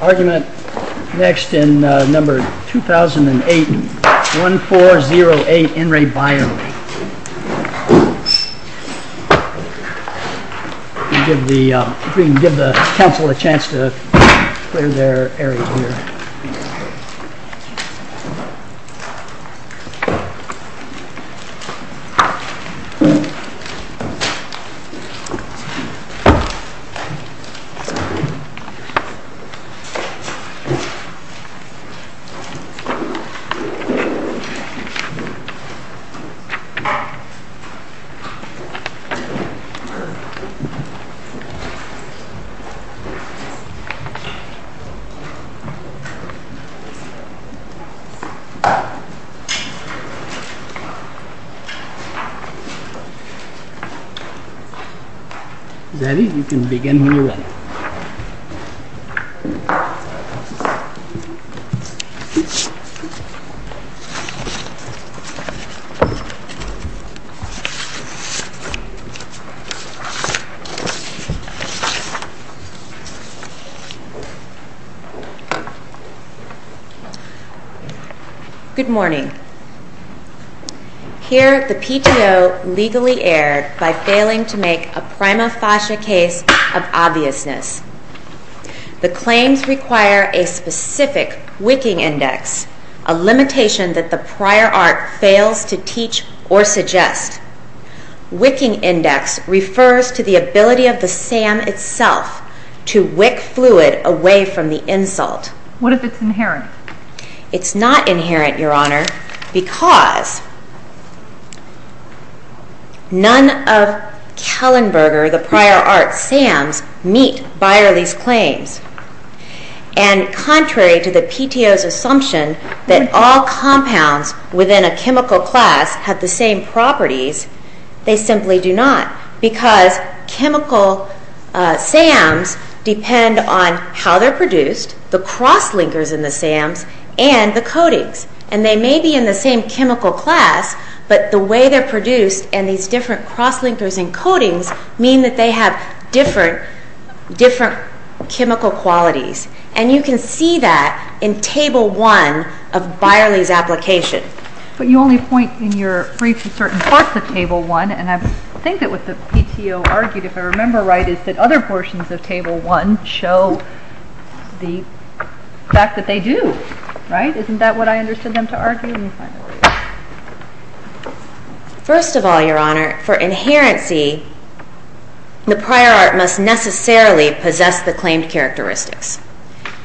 Argument next in number 2008, 1408 N. Re. Byerly. If we can give the council a chance to clear their area here. We can begin when you are ready. Good morning. Here, the PTO legally erred by failing to make a prima facie case of obviousness. The claims require a specific wicking index, a limitation that the prior art fails to teach or suggest. Wicking index refers to the ability of the SAM itself to wick fluid away from the insult. What if it's inherent? It's not inherent, Your Honor, because none of Kallenberger, the prior art SAMs, meet Byerly's claims. And contrary to the PTO's assumption that all compounds within a chemical class have the same properties, they simply do not. Because chemical SAMs depend on how they're produced, the cross-linkers in the SAMs, and the coatings. And they may be in the same chemical class, but the way they're produced and these different cross-linkers and coatings mean that they have different chemical qualities. And you can see that in Table 1 of Byerly's application. But you only point in your briefs at certain parts of Table 1. And I think that what the PTO argued, if I remember right, is that other portions of Table 1 show the fact that they do. Right? Isn't that what I understood them to argue? First of all, Your Honor, for inherency, the prior art must necessarily possess the claimed characteristics.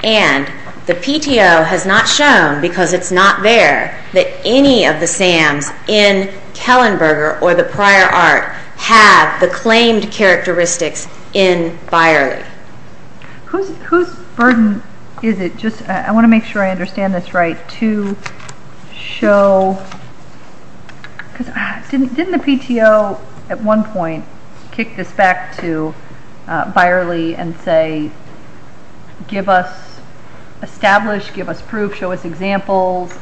And the PTO has not shown, because it's not there, that any of the SAMs in Kallenberger or the prior art have the claimed characteristics in Byerly. Whose burden is it? I want to make sure I understand this right. Didn't the PTO, at one point, kick this back to Byerly and say, establish, give us proof, show us examples?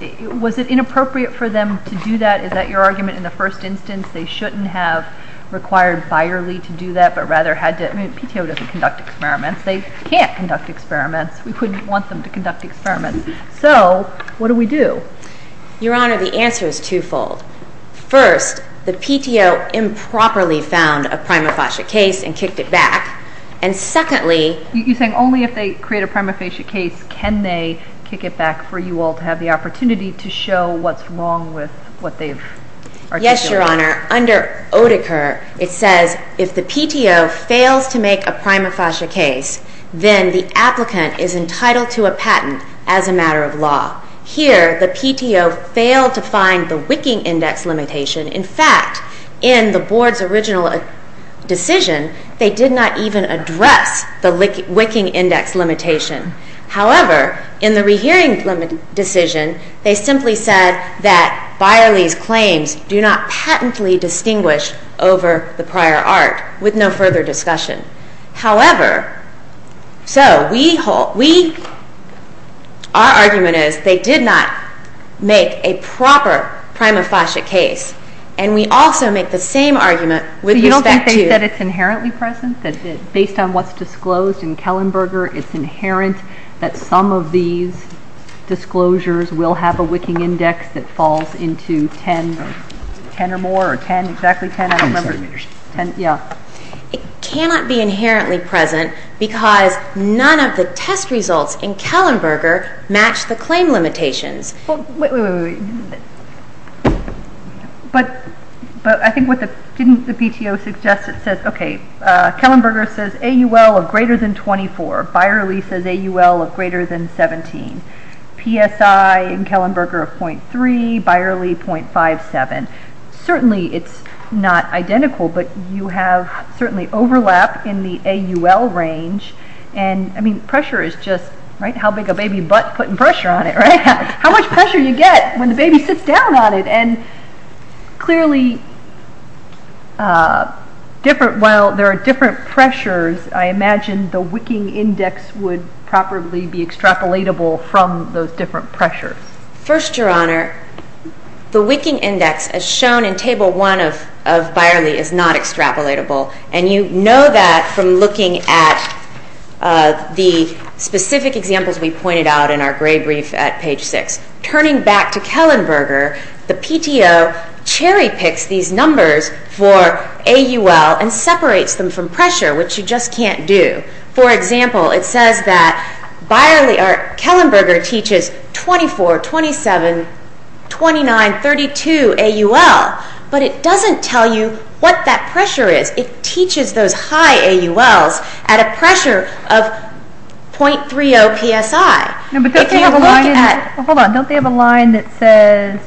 Was it inappropriate for them to do that? Is that your argument in the first instance? They shouldn't have required Byerly to do that, but rather had to. I mean, the PTO doesn't conduct experiments. They can't conduct experiments. We couldn't want them to conduct experiments. So, what do we do? Your Honor, the answer is twofold. First, the PTO improperly found a prima facie case and kicked it back. And secondly… You're saying only if they create a prima facie case can they kick it back for you all to have the opportunity to show what's wrong with what they've articulated? Yes, Your Honor. Under Oedeker, it says if the PTO fails to make a prima facie case, then the applicant is entitled to a patent as a matter of law. Here, the PTO failed to find the wicking index limitation. In fact, in the Board's original decision, they did not even address the wicking index limitation. However, in the rehearing decision, they simply said that Byerly's claims do not patently distinguish over the prior art, with no further discussion. However, so, our argument is they did not make a proper prima facie case. And we also make the same argument with respect to… that some of these disclosures will have a wicking index that falls into 10 or more, or 10, exactly 10, I don't remember. It cannot be inherently present because none of the test results in Kellenberger match the claim limitations. But, I think what the… didn't the PTO suggest it says, okay, Kellenberger says AUL of greater than 24. Byerly says AUL of greater than 17. PSI in Kellenberger of 0.3. Byerly, 0.57. Certainly, it's not identical, but you have certainly overlap in the AUL range. And, I mean, pressure is just, right, how big a baby butt putting pressure on it, right? How much pressure do you get when the baby sits down on it? And, clearly, different… while there are different pressures, I imagine the wicking index would probably be extrapolatable from those different pressures. First, Your Honor, the wicking index, as shown in Table 1 of Byerly, is not extrapolatable. And, you know that from looking at the specific examples we pointed out in our gray brief at Page 6. Turning back to Kellenberger, the PTO cherry-picks these numbers for AUL and separates them from pressure, which you just can't do. For example, it says that Byerly… or Kellenberger teaches 24, 27, 29, 32 AUL, but it doesn't tell you what that pressure is. It teaches those high AULs at a pressure of 0.30 PSI. If you look at… No, but don't they have a line in… hold on, don't they have a line that says…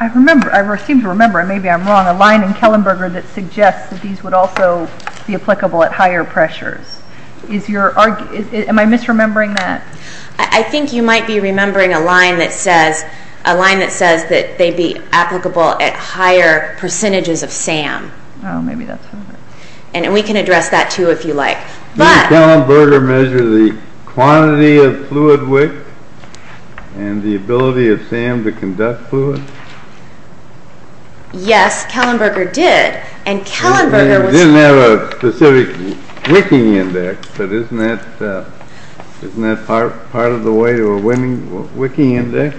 I remember… I seem to remember, and maybe I'm wrong, a line in Kellenberger that suggests that these would also be applicable at higher pressures. Is your… am I misremembering that? I think you might be remembering a line that says… a line that says that they'd be applicable at higher percentages of SAM. Oh, maybe that's not it. And we can address that, too, if you like. Did Kellenberger measure the quantity of fluid wick and the ability of SAM to conduct fluid? Yes, Kellenberger did, and Kellenberger was… There's a specific wicking index, but isn't that part of the way to a wicking index?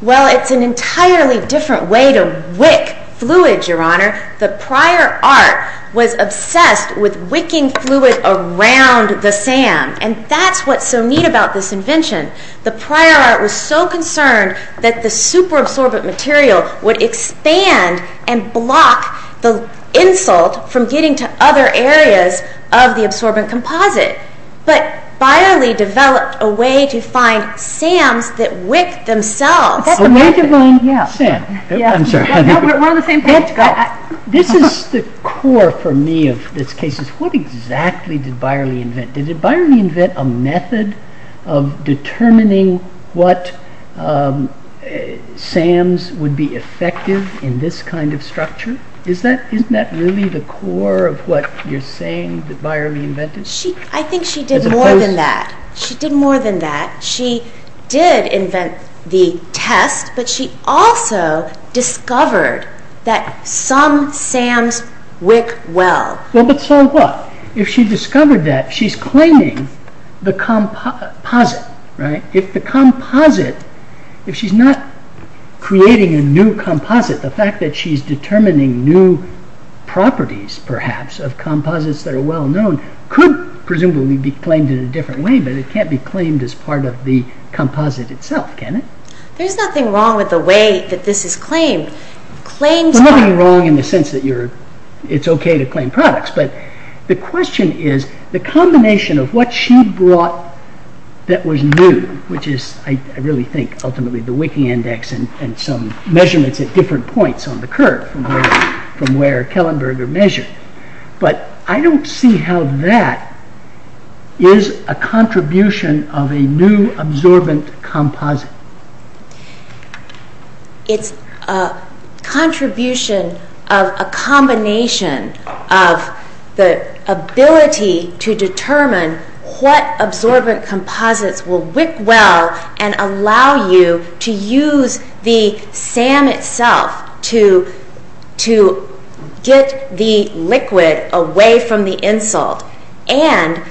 Well, it's an entirely different way to wick fluid, Your Honor. The prior art was obsessed with wicking fluid around the SAM, and that's what's so neat about this invention. The prior art was so concerned that the superabsorbent material would expand and block the insult from getting to other areas of the absorbent composite. But Beyerle developed a way to find SAMs that wick themselves. A way to find SAM. We're on the same page, guys. This is the core, for me, of this case. What exactly did Beyerle invent? Did Beyerle invent a method of determining what SAMs would be effective in this kind of structure? Isn't that really the core of what you're saying that Beyerle invented? I think she did more than that. She did more than that. She did invent the test, but she also discovered that some SAMs wick well. Well, but so what? If she discovered that, she's claiming the composite. If the composite, if she's not creating a new composite, the fact that she's determining new properties, perhaps, of composites that are well known could presumably be claimed in a different way, but it can't be claimed as part of the composite itself, can it? There's nothing wrong with the way that this is claimed. There's nothing wrong in the sense that it's okay to claim products, but the question is the combination of what she brought that was new, which is, I really think, ultimately the wicking index and some measurements at different points on the curve from where Kellenberg measured, but I don't see how that is a contribution of a new absorbent composite. It's a contribution of a combination of the ability to determine what absorbent composites will wick well and allow you to use the SAM itself to get the liquid away from the insult, and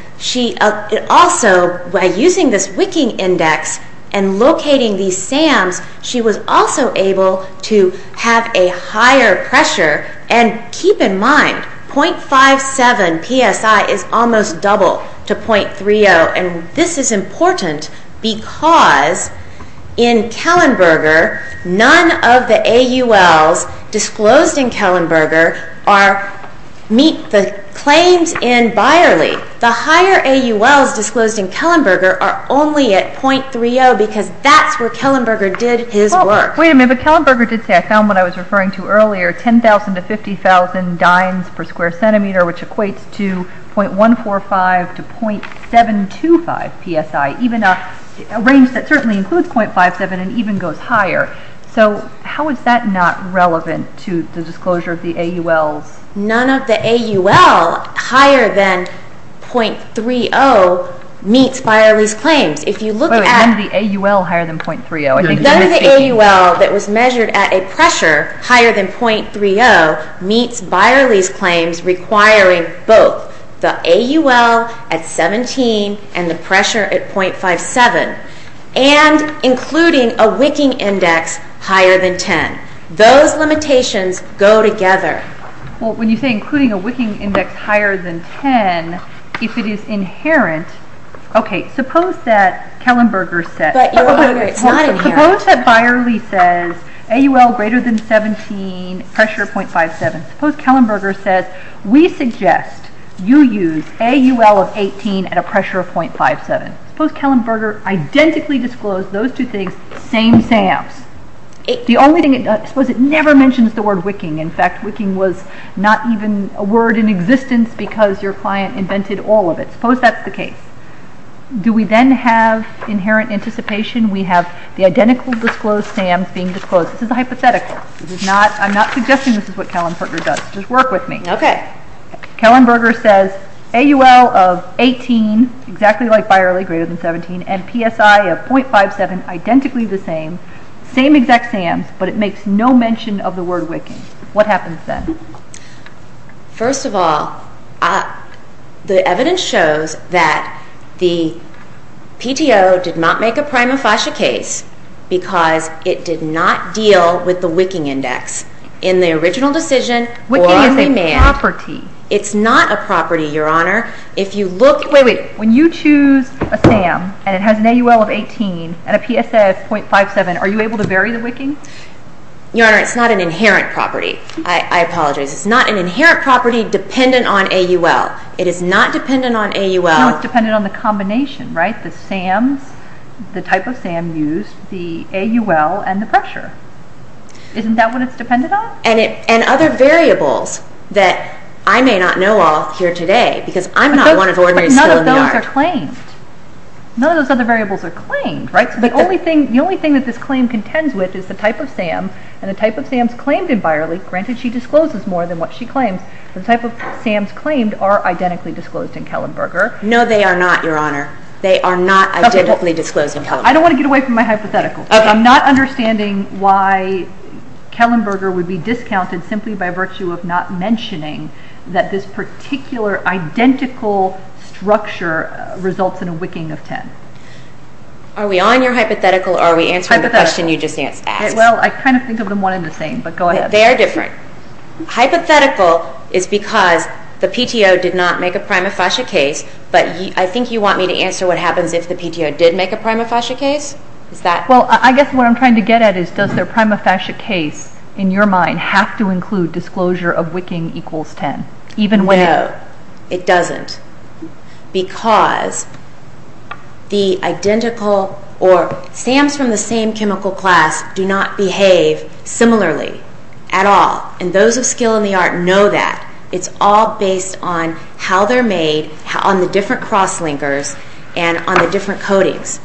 also by using this wicking index and locating these SAMs, she was also able to have a higher pressure, and keep in mind, 0.57 psi is almost double to 0.30, and this is important because in Kellenberger, none of the AULs disclosed in Kellenberger meet the claims in Beyerle. The higher AULs disclosed in Kellenberger are only at 0.30 because that's where Kellenberger did his work. Wait a minute, but Kellenberger did say, I found what I was referring to earlier, 10,000 to 50,000 dynes per square centimeter, which equates to 0.145 to 0.725 psi, even a range that certainly includes 0.57 and even goes higher. So how is that not relevant to the disclosure of the AULs? None of the AUL higher than 0.30 meets Beyerle's claims. Wait a minute, none of the AUL higher than 0.30? None of the AUL that was measured at a pressure higher than 0.30 meets Beyerle's claims requiring both the AUL at 17 and the pressure at 0.57, and including a wicking index higher than 10. Those limitations go together. Well, when you say including a wicking index higher than 10, if it is inherent, okay, suppose that Kellenberger said... But it's not inherent. Suppose that Beyerle says AUL greater than 17, pressure 0.57. Suppose Kellenberger says, we suggest you use AUL of 18 at a pressure of 0.57. Suppose Kellenberger identically disclosed those two things, same SAMs. The only thing it does, suppose it never mentions the word wicking. In fact, wicking was not even a word in existence because your client invented all of it. Suppose that's the case. Do we then have inherent anticipation? We have the identical disclosed SAMs being disclosed. This is a hypothetical. I'm not suggesting this is what Kellenberger does. Just work with me. Kellenberger says AUL of 18, exactly like Beyerle, greater than 17, and PSI of 0.57, identically the same, same exact SAMs, but it makes no mention of the word wicking. What happens then? First of all, the evidence shows that the PTO did not make a prima facie case because it did not deal with the wicking index. In the original decision, wicking is a property. It's not a property, Your Honor. Wait, wait. When you choose a SAM and it has an AUL of 18 and a PSI of 0.57, are you able to bury the wicking? Your Honor, it's not an inherent property. I apologize. It's not an inherent property dependent on AUL. It is not dependent on AUL. No, it's dependent on the combination, right? The SAMs, the type of SAM used, the AUL, and the pressure. Isn't that what it's dependent on? And other variables that I may not know of here today because I'm not one of the ordinary people in the yard. But none of those are claimed. None of those other variables are claimed, right? The only thing that this claim contends with is the type of SAM, and the type of SAMs claimed in Beyerle, granted she discloses more than what she claims, but the type of SAMs claimed are identically disclosed in Kellenberger. No, they are not, Your Honor. They are not identically disclosed in Kellenberger. I don't want to get away from my hypothetical. I'm not understanding why Kellenberger would be discounted simply by virtue of not mentioning that this particular identical structure results in a wicking of 10. Are we on your hypothetical or are we answering the question you just asked? Well, I kind of think of them one and the same, but go ahead. They are different. Hypothetical is because the PTO did not make a prima facie case, but I think you want me to answer what happens if the PTO did make a prima facie case? Well, I guess what I'm trying to get at is, does their prima facie case, in your mind, have to include disclosure of wicking equals 10? No, it doesn't, because the identical or SAMs from the same chemical class do not behave similarly at all, and those of skill in the art know that. It's all based on how they're made, on the different cross-linkers, and on the different coatings.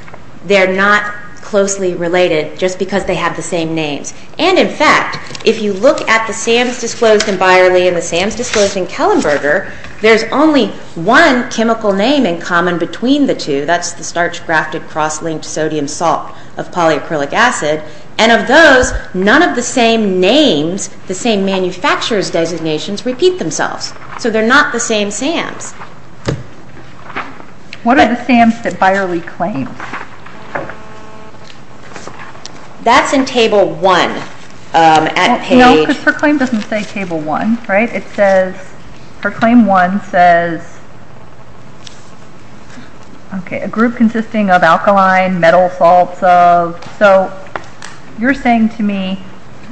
They're not closely related just because they have the same names. And, in fact, if you look at the SAMs disclosed in Byerly and the SAMs disclosed in Kellenberger, there's only one chemical name in common between the two. That's the starch-grafted cross-linked sodium salt of polyacrylic acid, and of those, none of the same names, the same manufacturer's designations, repeat themselves. So they're not the same SAMs. What are the SAMs that Byerly claims? That's in Table 1 at page... No, because her claim doesn't say Table 1, right? It says, her Claim 1 says... Okay, a group consisting of alkaline metal salts of... So you're saying to me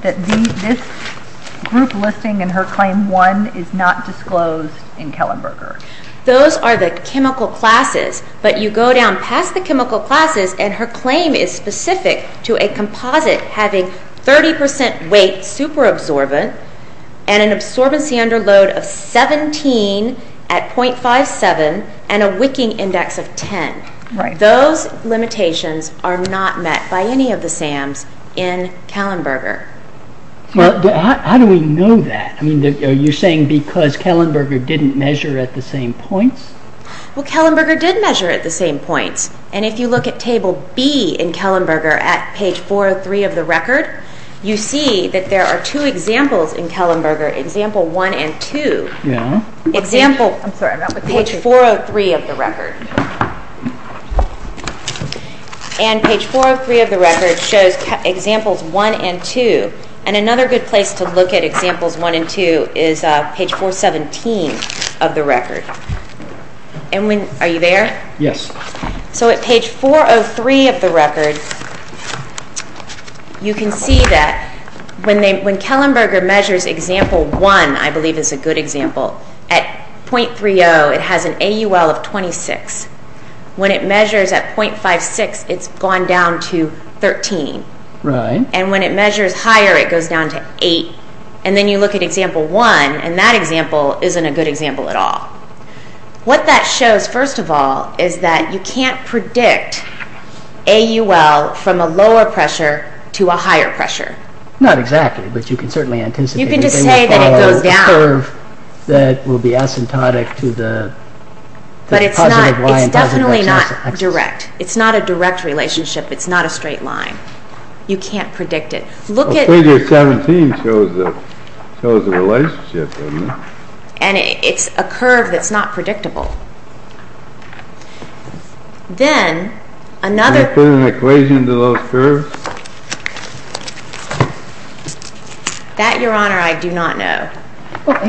that this group listing in her Claim 1 is not disclosed in Kellenberger? Those are the chemical classes, but you go down past the chemical classes and her claim is specific to a composite having 30% weight, super-absorbent, and an absorbency under load of 17 at .57, and a wicking index of 10. Those limitations are not met by any of the SAMs in Kellenberger. Well, how do we know that? Are you saying because Kellenberger didn't measure at the same points? Well, Kellenberger did measure at the same points, and if you look at Table B in Kellenberger at page 403 of the record, you see that there are two examples in Kellenberger, Example 1 and 2. I'm sorry, I'm not with you. Page 403 of the record. And page 403 of the record shows Examples 1 and 2, and another good place to look at Examples 1 and 2 is page 417 of the record. Are you there? Yes. So at page 403 of the record, you can see that when Kellenberger measures Example 1, I believe is a good example, at .30 it has an AUL of 26. When it measures at .56, it's gone down to 13. Right. And when it measures higher, it goes down to 8. And then you look at Example 1, and that example isn't a good example at all. What that shows, first of all, is that you can't predict AUL from a lower pressure to a higher pressure. Not exactly, but you can certainly anticipate it. You can just say that it goes down. The curve that will be asymptotic to the positive Y and positive X axis. But it's definitely not direct. It's not a direct relationship. It's not a straight line. You can't predict it. Well, page 417 shows the relationship, doesn't it? And it's a curve that's not predictable. Then another... Can you put an equation to those curves? That, Your Honor, I do not know. Well,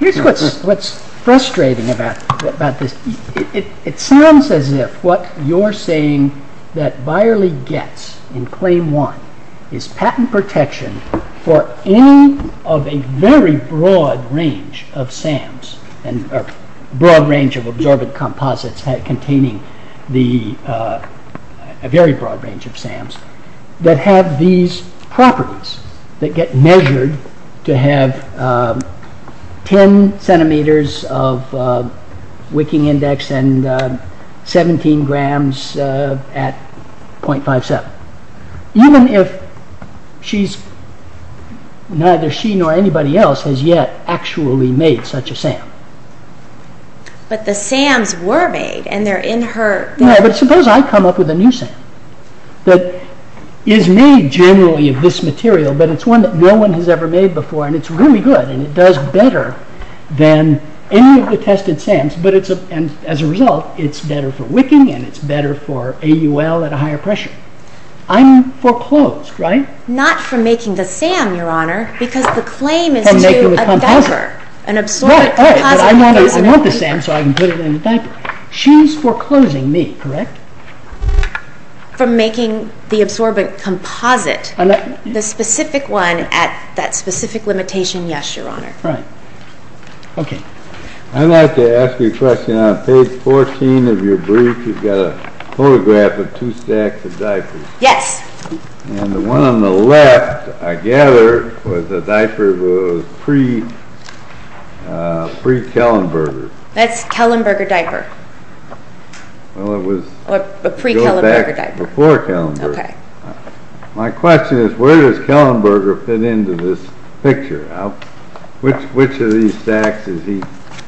here's what's frustrating about this. It sounds as if what you're saying that Byerly gets in Claim 1 is patent protection for any of a very broad range of SAMs, or broad range of absorbent composites containing a very broad range of SAMs that have these properties that get measured to have 10 centimeters of wicking index and 17 grams at 0.57. Even if neither she nor anybody else has yet actually made such a SAM. But the SAMs were made, and they're in her... No, but suppose I come up with a new SAM that is made generally of this material, but it's one that no one has ever made before, and it's really good, and it does better than any of the tested SAMs, and as a result, it's better for wicking, and it's better for AUL at a higher pressure. I'm foreclosed, right? Not from making the SAM, Your Honor, because the claim is to a diaper, an absorbent composite. I want the SAM so I can put it in the diaper. She's foreclosing me, correct? From making the absorbent composite. The specific one at that specific limitation, yes, Your Honor. Right. Okay. I'd like to ask you a question. On page 14 of your brief, you've got a photograph of two stacks of diapers. Yes. And the one on the left, I gather, was a diaper that was pre-Kellenberger. That's a Kellenberger diaper. Well, it was... A pre-Kellenberger diaper. Before Kellenberger. Okay. My question is, where does Kellenberger fit into this picture? Which of these stacks is he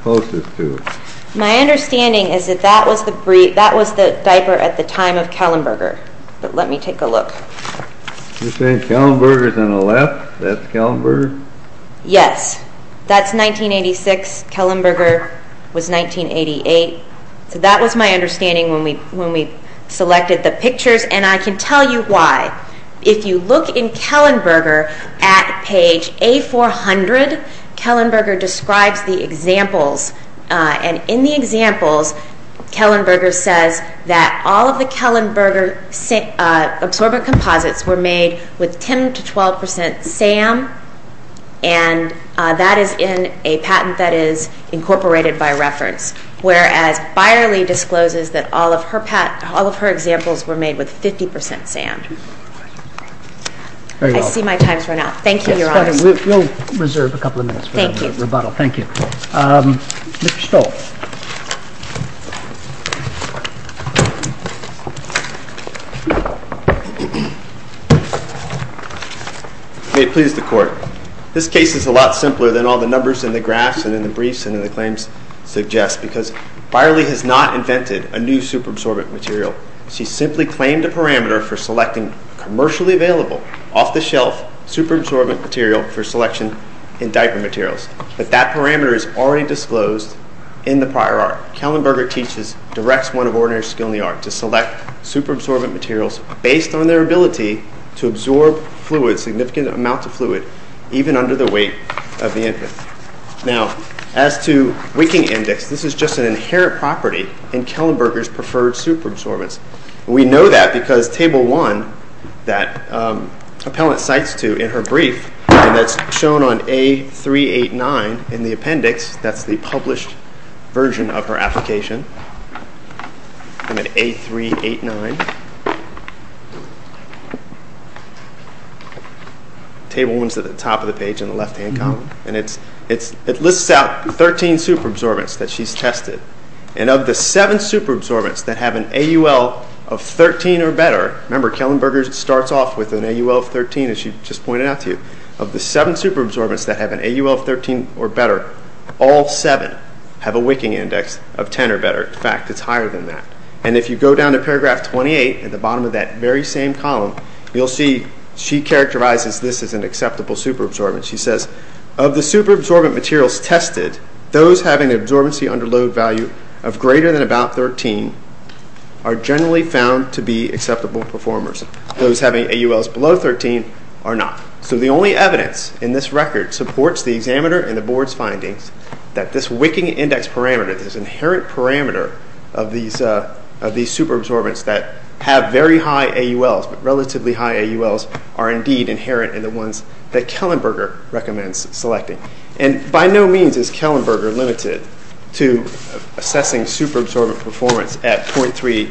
closest to? My understanding is that that was the diaper at the time of Kellenberger. But let me take a look. You're saying Kellenberger's on the left? That's Kellenberger? Yes. That's 1986. Kellenberger was 1988. So that was my understanding when we selected the pictures. And I can tell you why. If you look in Kellenberger, at page A400, Kellenberger describes the examples. And in the examples, Kellenberger says that all of the Kellenberger absorbent composites were made with 10% to 12% SAM. And that is in a patent that is incorporated by reference. Whereas Byerly discloses that all of her examples were made with 50% SAM. I see my time's run out. Thank you, Your Honor. We'll reserve a couple of minutes for rebuttal. Thank you. Mr. Stoll. May it please the Court. This case is a lot simpler than all the numbers in the graphs and in the briefs and in the claims suggest because Byerly has not invented a new superabsorbent material. She simply claimed a parameter for selecting commercially available, off-the-shelf superabsorbent material for selection in diaper materials. But that parameter is already disclosed in the prior art. Kellenberger teaches directs one of ordinary skill in the art to select superabsorbent materials based on their ability to absorb fluid, significant amounts of fluid, even under the weight of the infant. Now, as to wicking index, this is just an inherent property in Kellenberger's preferred superabsorbents. We know that because Table 1 that appellant cites to in her brief and that's shown on A389 in the appendix, that's the published version of her application. I'm at A389. Table 1 is at the top of the page in the left-hand column. And it lists out 13 superabsorbents that she's tested. And of the 7 superabsorbents that have an AUL of 13 or better, remember, Kellenberger starts off with an AUL of 13 as she just pointed out to you. Of the 7 superabsorbents that have an AUL of 13 or better, all 7 have a wicking index of 10 or better. In fact, it's higher than that. And if you go down to paragraph 28 at the bottom of that very same column, you'll see she characterizes this as an acceptable superabsorbent. She says, of the superabsorbent materials tested, those having an absorbency under load value of greater than about 13 are generally found to be acceptable performers. Those having AULs below 13 are not. So the only evidence in this record supports the examiner and the board's findings that this wicking index parameter, this inherent parameter of these superabsorbents that have very high AULs, relatively high AULs, are indeed inherent in the ones that Kellenberger recommends selecting. And by no means is Kellenberger limited to assessing superabsorbent performance at 0.3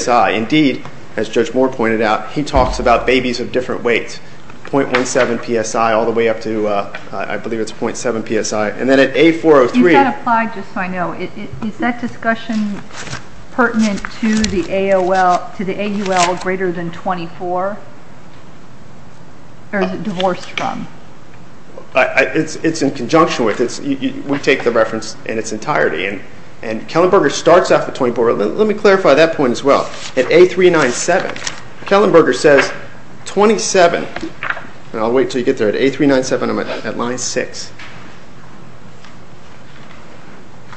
psi. Indeed, as Judge Moore pointed out, he talks about babies of different weights, 0.17 psi all the way up to, I believe it's 0.7 psi. And then at A403. You've got to apply it just so I know. Is that discussion pertinent to the AUL greater than 24? Or is it divorced from? It's in conjunction with it. We take the reference in its entirety. And Kellenberger starts off at 24. Let me clarify that point as well. At A397, Kellenberger says 27. And I'll wait until you get there. At A397, I'm at line 6.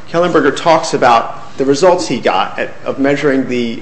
Kellenberger talks about the results he got of measuring the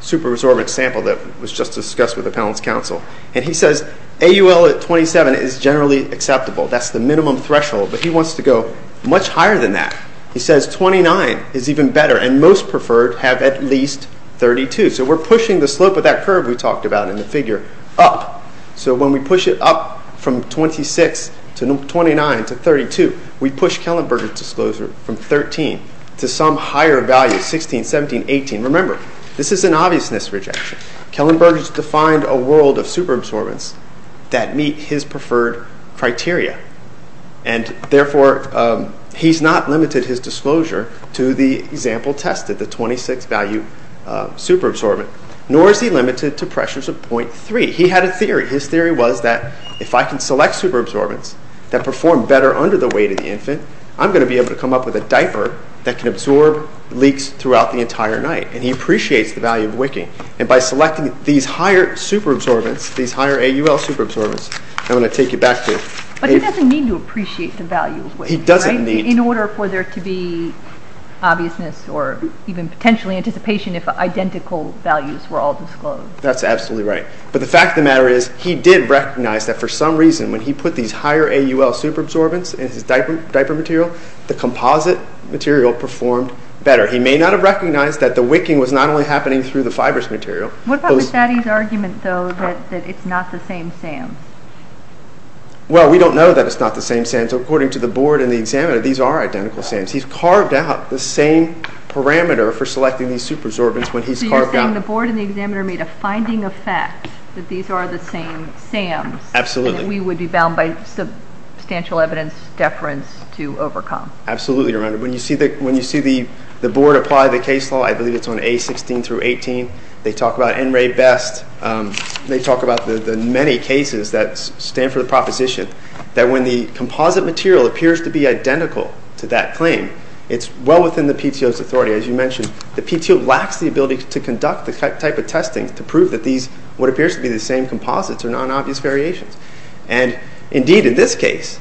superabsorbent sample that was just discussed with the panel's counsel. And he says AUL at 27 is generally acceptable. That's the minimum threshold. But he wants to go much higher than that. He says 29 is even better. And most preferred have at least 32. So we're pushing the slope of that curve we talked about in the figure up. So when we push it up from 26 to 29 to 32, we push Kellenberger's disclosure from 13 to some higher value, 16, 17, 18. Remember, this is an obviousness rejection. Kellenberger's defined a world of superabsorbents that meet his preferred criteria. And therefore, he's not limited his disclosure to the example tested, the 26-value superabsorbent, nor is he limited to pressures of 0.3. He had a theory. His theory was that if I can select superabsorbents that perform better under the weight of the infant, I'm going to be able to come up with a diaper that can absorb leaks throughout the entire night. And he appreciates the value of wicking. And by selecting these higher superabsorbents, these higher AUL superabsorbents, I'm going to take you back to... But he doesn't need to appreciate the value of wicking, right? He doesn't need. In order for there to be obviousness or even potentially anticipation if identical values were all disclosed. That's absolutely right. But the fact of the matter is he did recognize that for some reason when he put these higher AUL superabsorbents in his diaper material, the composite material performed better. He may not have recognized that the wicking was not only happening through the fibrous material. What about Mastady's argument, though, that it's not the same SAMs? Well, we don't know that it's not the same SAMs. But according to the board and the examiner, these are identical SAMs. He's carved out the same parameter for selecting these superabsorbents when he's carved out... So you're saying the board and the examiner made a finding of fact that these are the same SAMs. Absolutely. And that we would be bound by substantial evidence deference to overcome. Absolutely, Your Honor. When you see the board apply the case law, I believe it's on A16 through 18, they talk about NRA-BEST. They talk about the many cases that stand for the proposition that when the composite material appears to be identical to that claim, it's well within the PTO's authority. As you mentioned, the PTO lacks the ability to conduct the type of testing to prove that what appears to be the same composites are non-obvious variations. Indeed, in this case,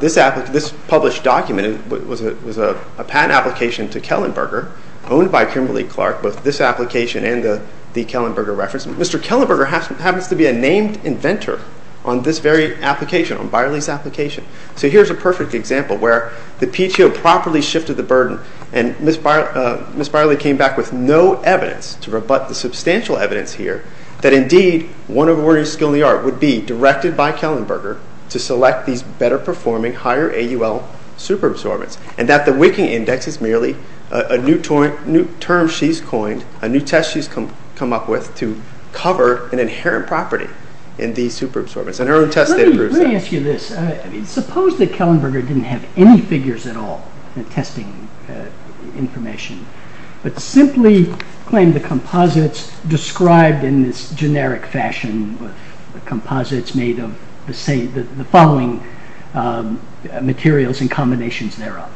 this published document was a patent application to Kellenberger, owned by Kimberly-Clark, both this application and the Kellenberger reference. Mr. Kellenberger happens to be a named inventor on this very application, on Byerly's application. So here's a perfect example where the PTO properly shifted the burden and Ms. Byerly came back with no evidence to rebut the substantial evidence here that, indeed, one awarding skill in the art would be directed by Kellenberger to select these better-performing, higher-AUL superabsorbents and that the wicking index is merely a new term she's coined, a new test she's come up with to cover an inherent property in these superabsorbents. Let me ask you this. Suppose that Kellenberger didn't have any figures at all in testing information, but simply claimed the composites described in this generic fashion, composites made of the following materials and combinations thereof.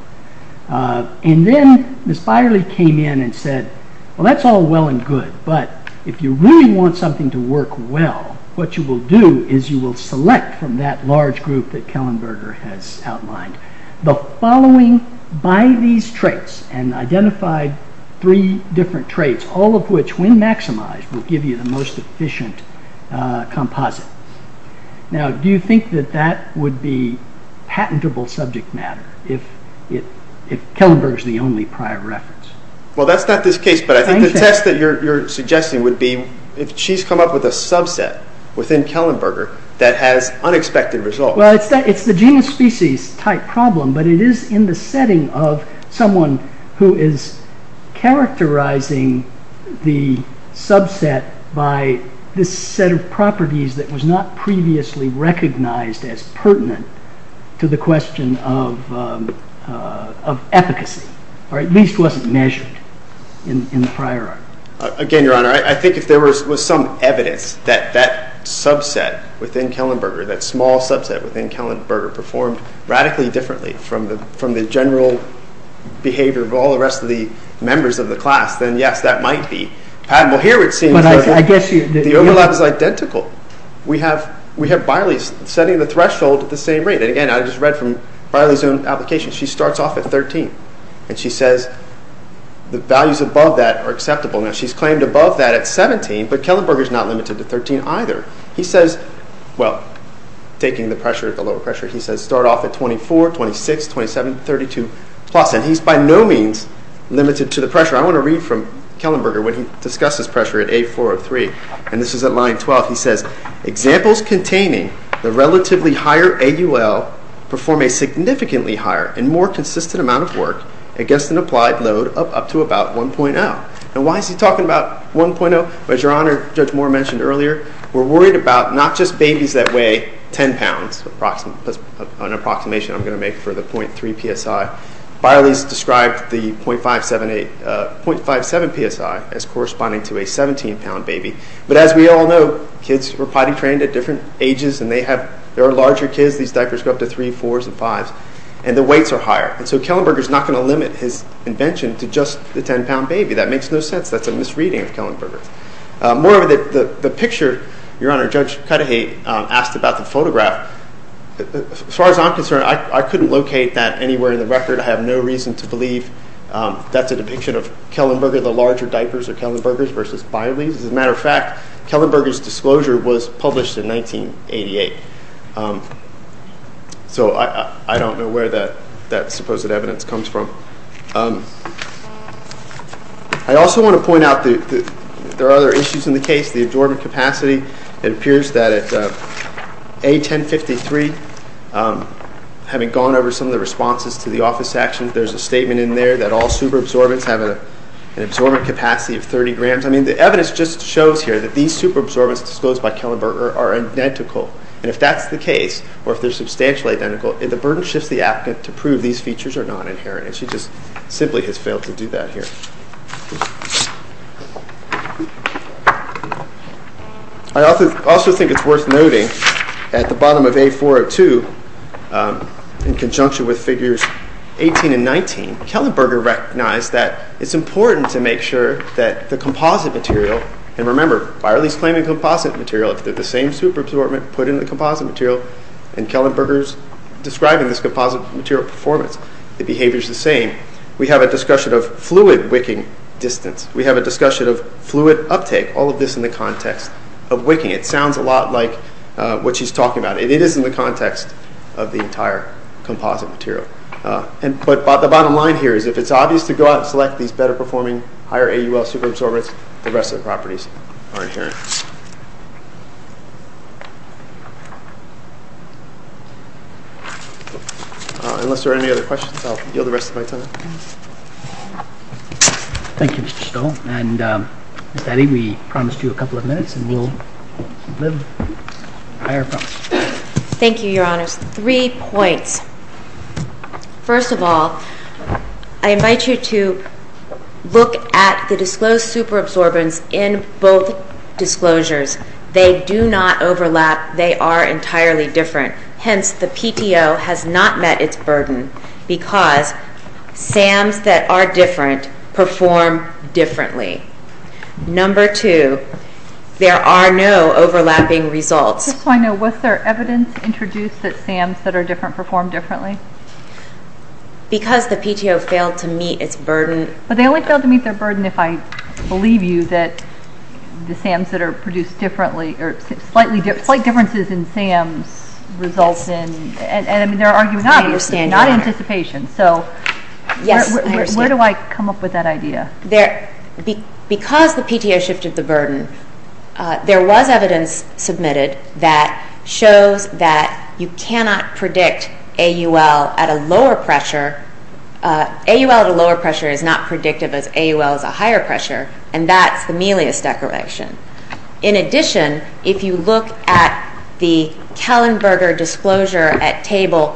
And then Ms. Byerly came in and said, well, that's all well and good, but if you really want something to work well, what you will do is you will select from that large group that Kellenberger has outlined the following by these traits and identified three different traits, all of which, when maximized, will give you the most efficient composite. Now, do you think that that would be patentable subject matter if Kellenberger is the only prior reference? Well, that's not this case, but I think the test that you're suggesting would be if she's come up with a subset within Kellenberger that has unexpected results. Well, it's the genus-species type problem, but it is in the setting of someone who is characterizing the subset by this set of properties that was not previously recognized as pertinent to the question of efficacy, or at least wasn't measured in the prior article. Again, Your Honor, I think if there was some evidence that that subset within Kellenberger, that small subset within Kellenberger, performed radically differently from the general behavior of all the rest of the members of the class, then yes, that might be patentable. Here it seems that the overlap is identical. We have Biley setting the threshold at the same rate. And again, I just read from Biley's own application. She starts off at 13, and she says the values above that are acceptable. Now, she's claimed above that at 17, but Kellenberger's not limited to 13 either. He says, well, taking the pressure at the lower pressure, he says start off at 24, 26, 27, 32 plus, and he's by no means limited to the pressure. I want to read from Kellenberger when he discusses pressure at A4 of 3. And this is at line 12. He says, examples containing the relatively higher AUL perform a significantly higher and more consistent amount of work against an applied load up to about 1.0. Now, why is he talking about 1.0? Well, as Your Honor, Judge Moore mentioned earlier, we're worried about not just babies that weigh 10 pounds. That's an approximation I'm going to make for the 0.3 PSI. Biley's described the 0.57 PSI as corresponding to a 17-pound baby. But as we all know, kids were potty trained at different ages, and they have larger kids. These diapers go up to 3, 4s, and 5s, and the weights are higher. And so Kellenberger's not going to limit his invention to just the 10-pound baby. That makes no sense. That's a misreading of Kellenberger. More of the picture, Your Honor, Judge Cudahy asked about the photograph. As far as I'm concerned, I couldn't locate that anywhere in the record. I have no reason to believe that's a depiction of Kellenberger. The larger diapers are Kellenberger's versus Biley's. As a matter of fact, Kellenberger's disclosure was published in 1988. So I don't know where that supposed evidence comes from. I also want to point out that there are other issues in the case. The absorbent capacity, it appears that at A1053, having gone over some of the responses to the office actions, there's a statement in there that all superabsorbents have an absorbent capacity of 30 grams. I mean, the evidence just shows here that these superabsorbents disclosed by Kellenberger are identical. And if that's the case, or if they're substantially identical, the burden shifts the applicant to prove these features are non-inherent. She just simply has failed to do that here. I also think it's worth noting at the bottom of A402, in conjunction with figures 18 and 19, Kellenberger recognized that it's important to make sure that the composite material, and remember, Biley's claiming composite material, if they're the same superabsorbent put in the composite material, and Kellenberger's describing this composite material performance, the behavior's the same, we have a discussion of fluid wicking distance. We have a discussion of fluid uptake. All of this in the context of wicking. It sounds a lot like what she's talking about. It is in the context of the entire composite material. But the bottom line here is if it's obvious to go out and select these better performing, higher AUL superabsorbents, the rest of the properties are inherent. Unless there are any other questions, I'll yield the rest of my time. Thank you, Mr. Stoll. And Ms. Addy, we promised you a couple of minutes and we'll live by our promise. Thank you, Your Honors. Three points. First of all, I invite you to look at the disclosed superabsorbents in both disclosed superabsorbents. They do not overlap. They are entirely different. Hence, the PTO has not met its burden because SAMs that are different perform differently. Number two, there are no overlapping results. Just so I know, was there evidence introduced that SAMs that are different perform differently? Because the PTO failed to meet its burden. But they only failed to meet their burden if I believe you that the SAMs that are produced differently or slight differences in SAMs results in, and I mean, they're arguing obviously, not anticipation. So where do I come up with that idea? Because the PTO shifted the burden, there was evidence submitted that shows that you cannot predict AUL at a lower pressure. AUL at a lower pressure is not predictive as AUL at a higher pressure, and that's the Melius Declaration. In addition, if you look at the Kellenberger Disclosure at Table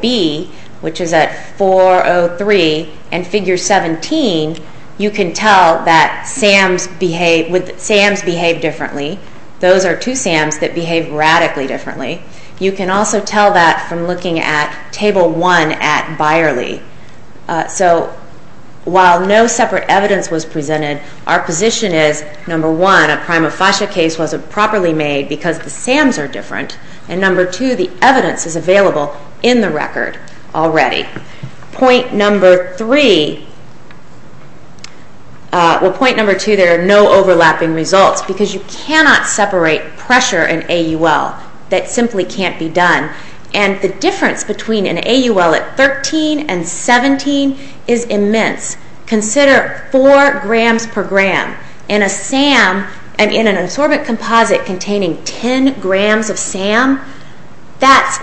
B, which is at 403 and Figure 17, you can tell that SAMs behave differently. Those are two SAMs that behave radically differently. You can also tell that from looking at Table 1 at Byerly. So while no separate evidence was presented, our position is, number one, a prima facie case wasn't properly made because the SAMs are different, and number two, the evidence is available in the record already. Point number three, well, point number two, there are no overlapping results because you cannot separate pressure and AUL. That simply can't be done. And the difference between an AUL at 13 and 17 is immense. Consider 4 grams per gram. In an insorbent composite containing 10 grams of SAM, that's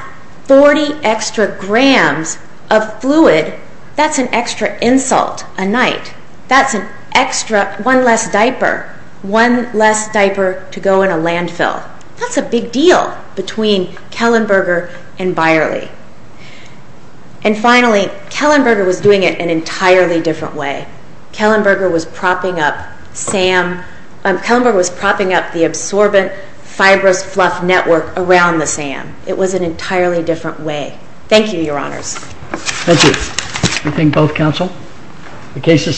40 extra grams of fluid. That's an extra insult, a night. That's an extra, one less diaper, one less diaper to go in a landfill. That's a big deal between Kellenberger and Byerly. And finally, Kellenberger was doing it an entirely different way. Kellenberger was propping up SAM, Kellenberger was propping up the absorbent fibrous fluff network around the SAM. It was an entirely different way. Thank you, Your Honors. Thank you. Anything both counsel? The case is submitted.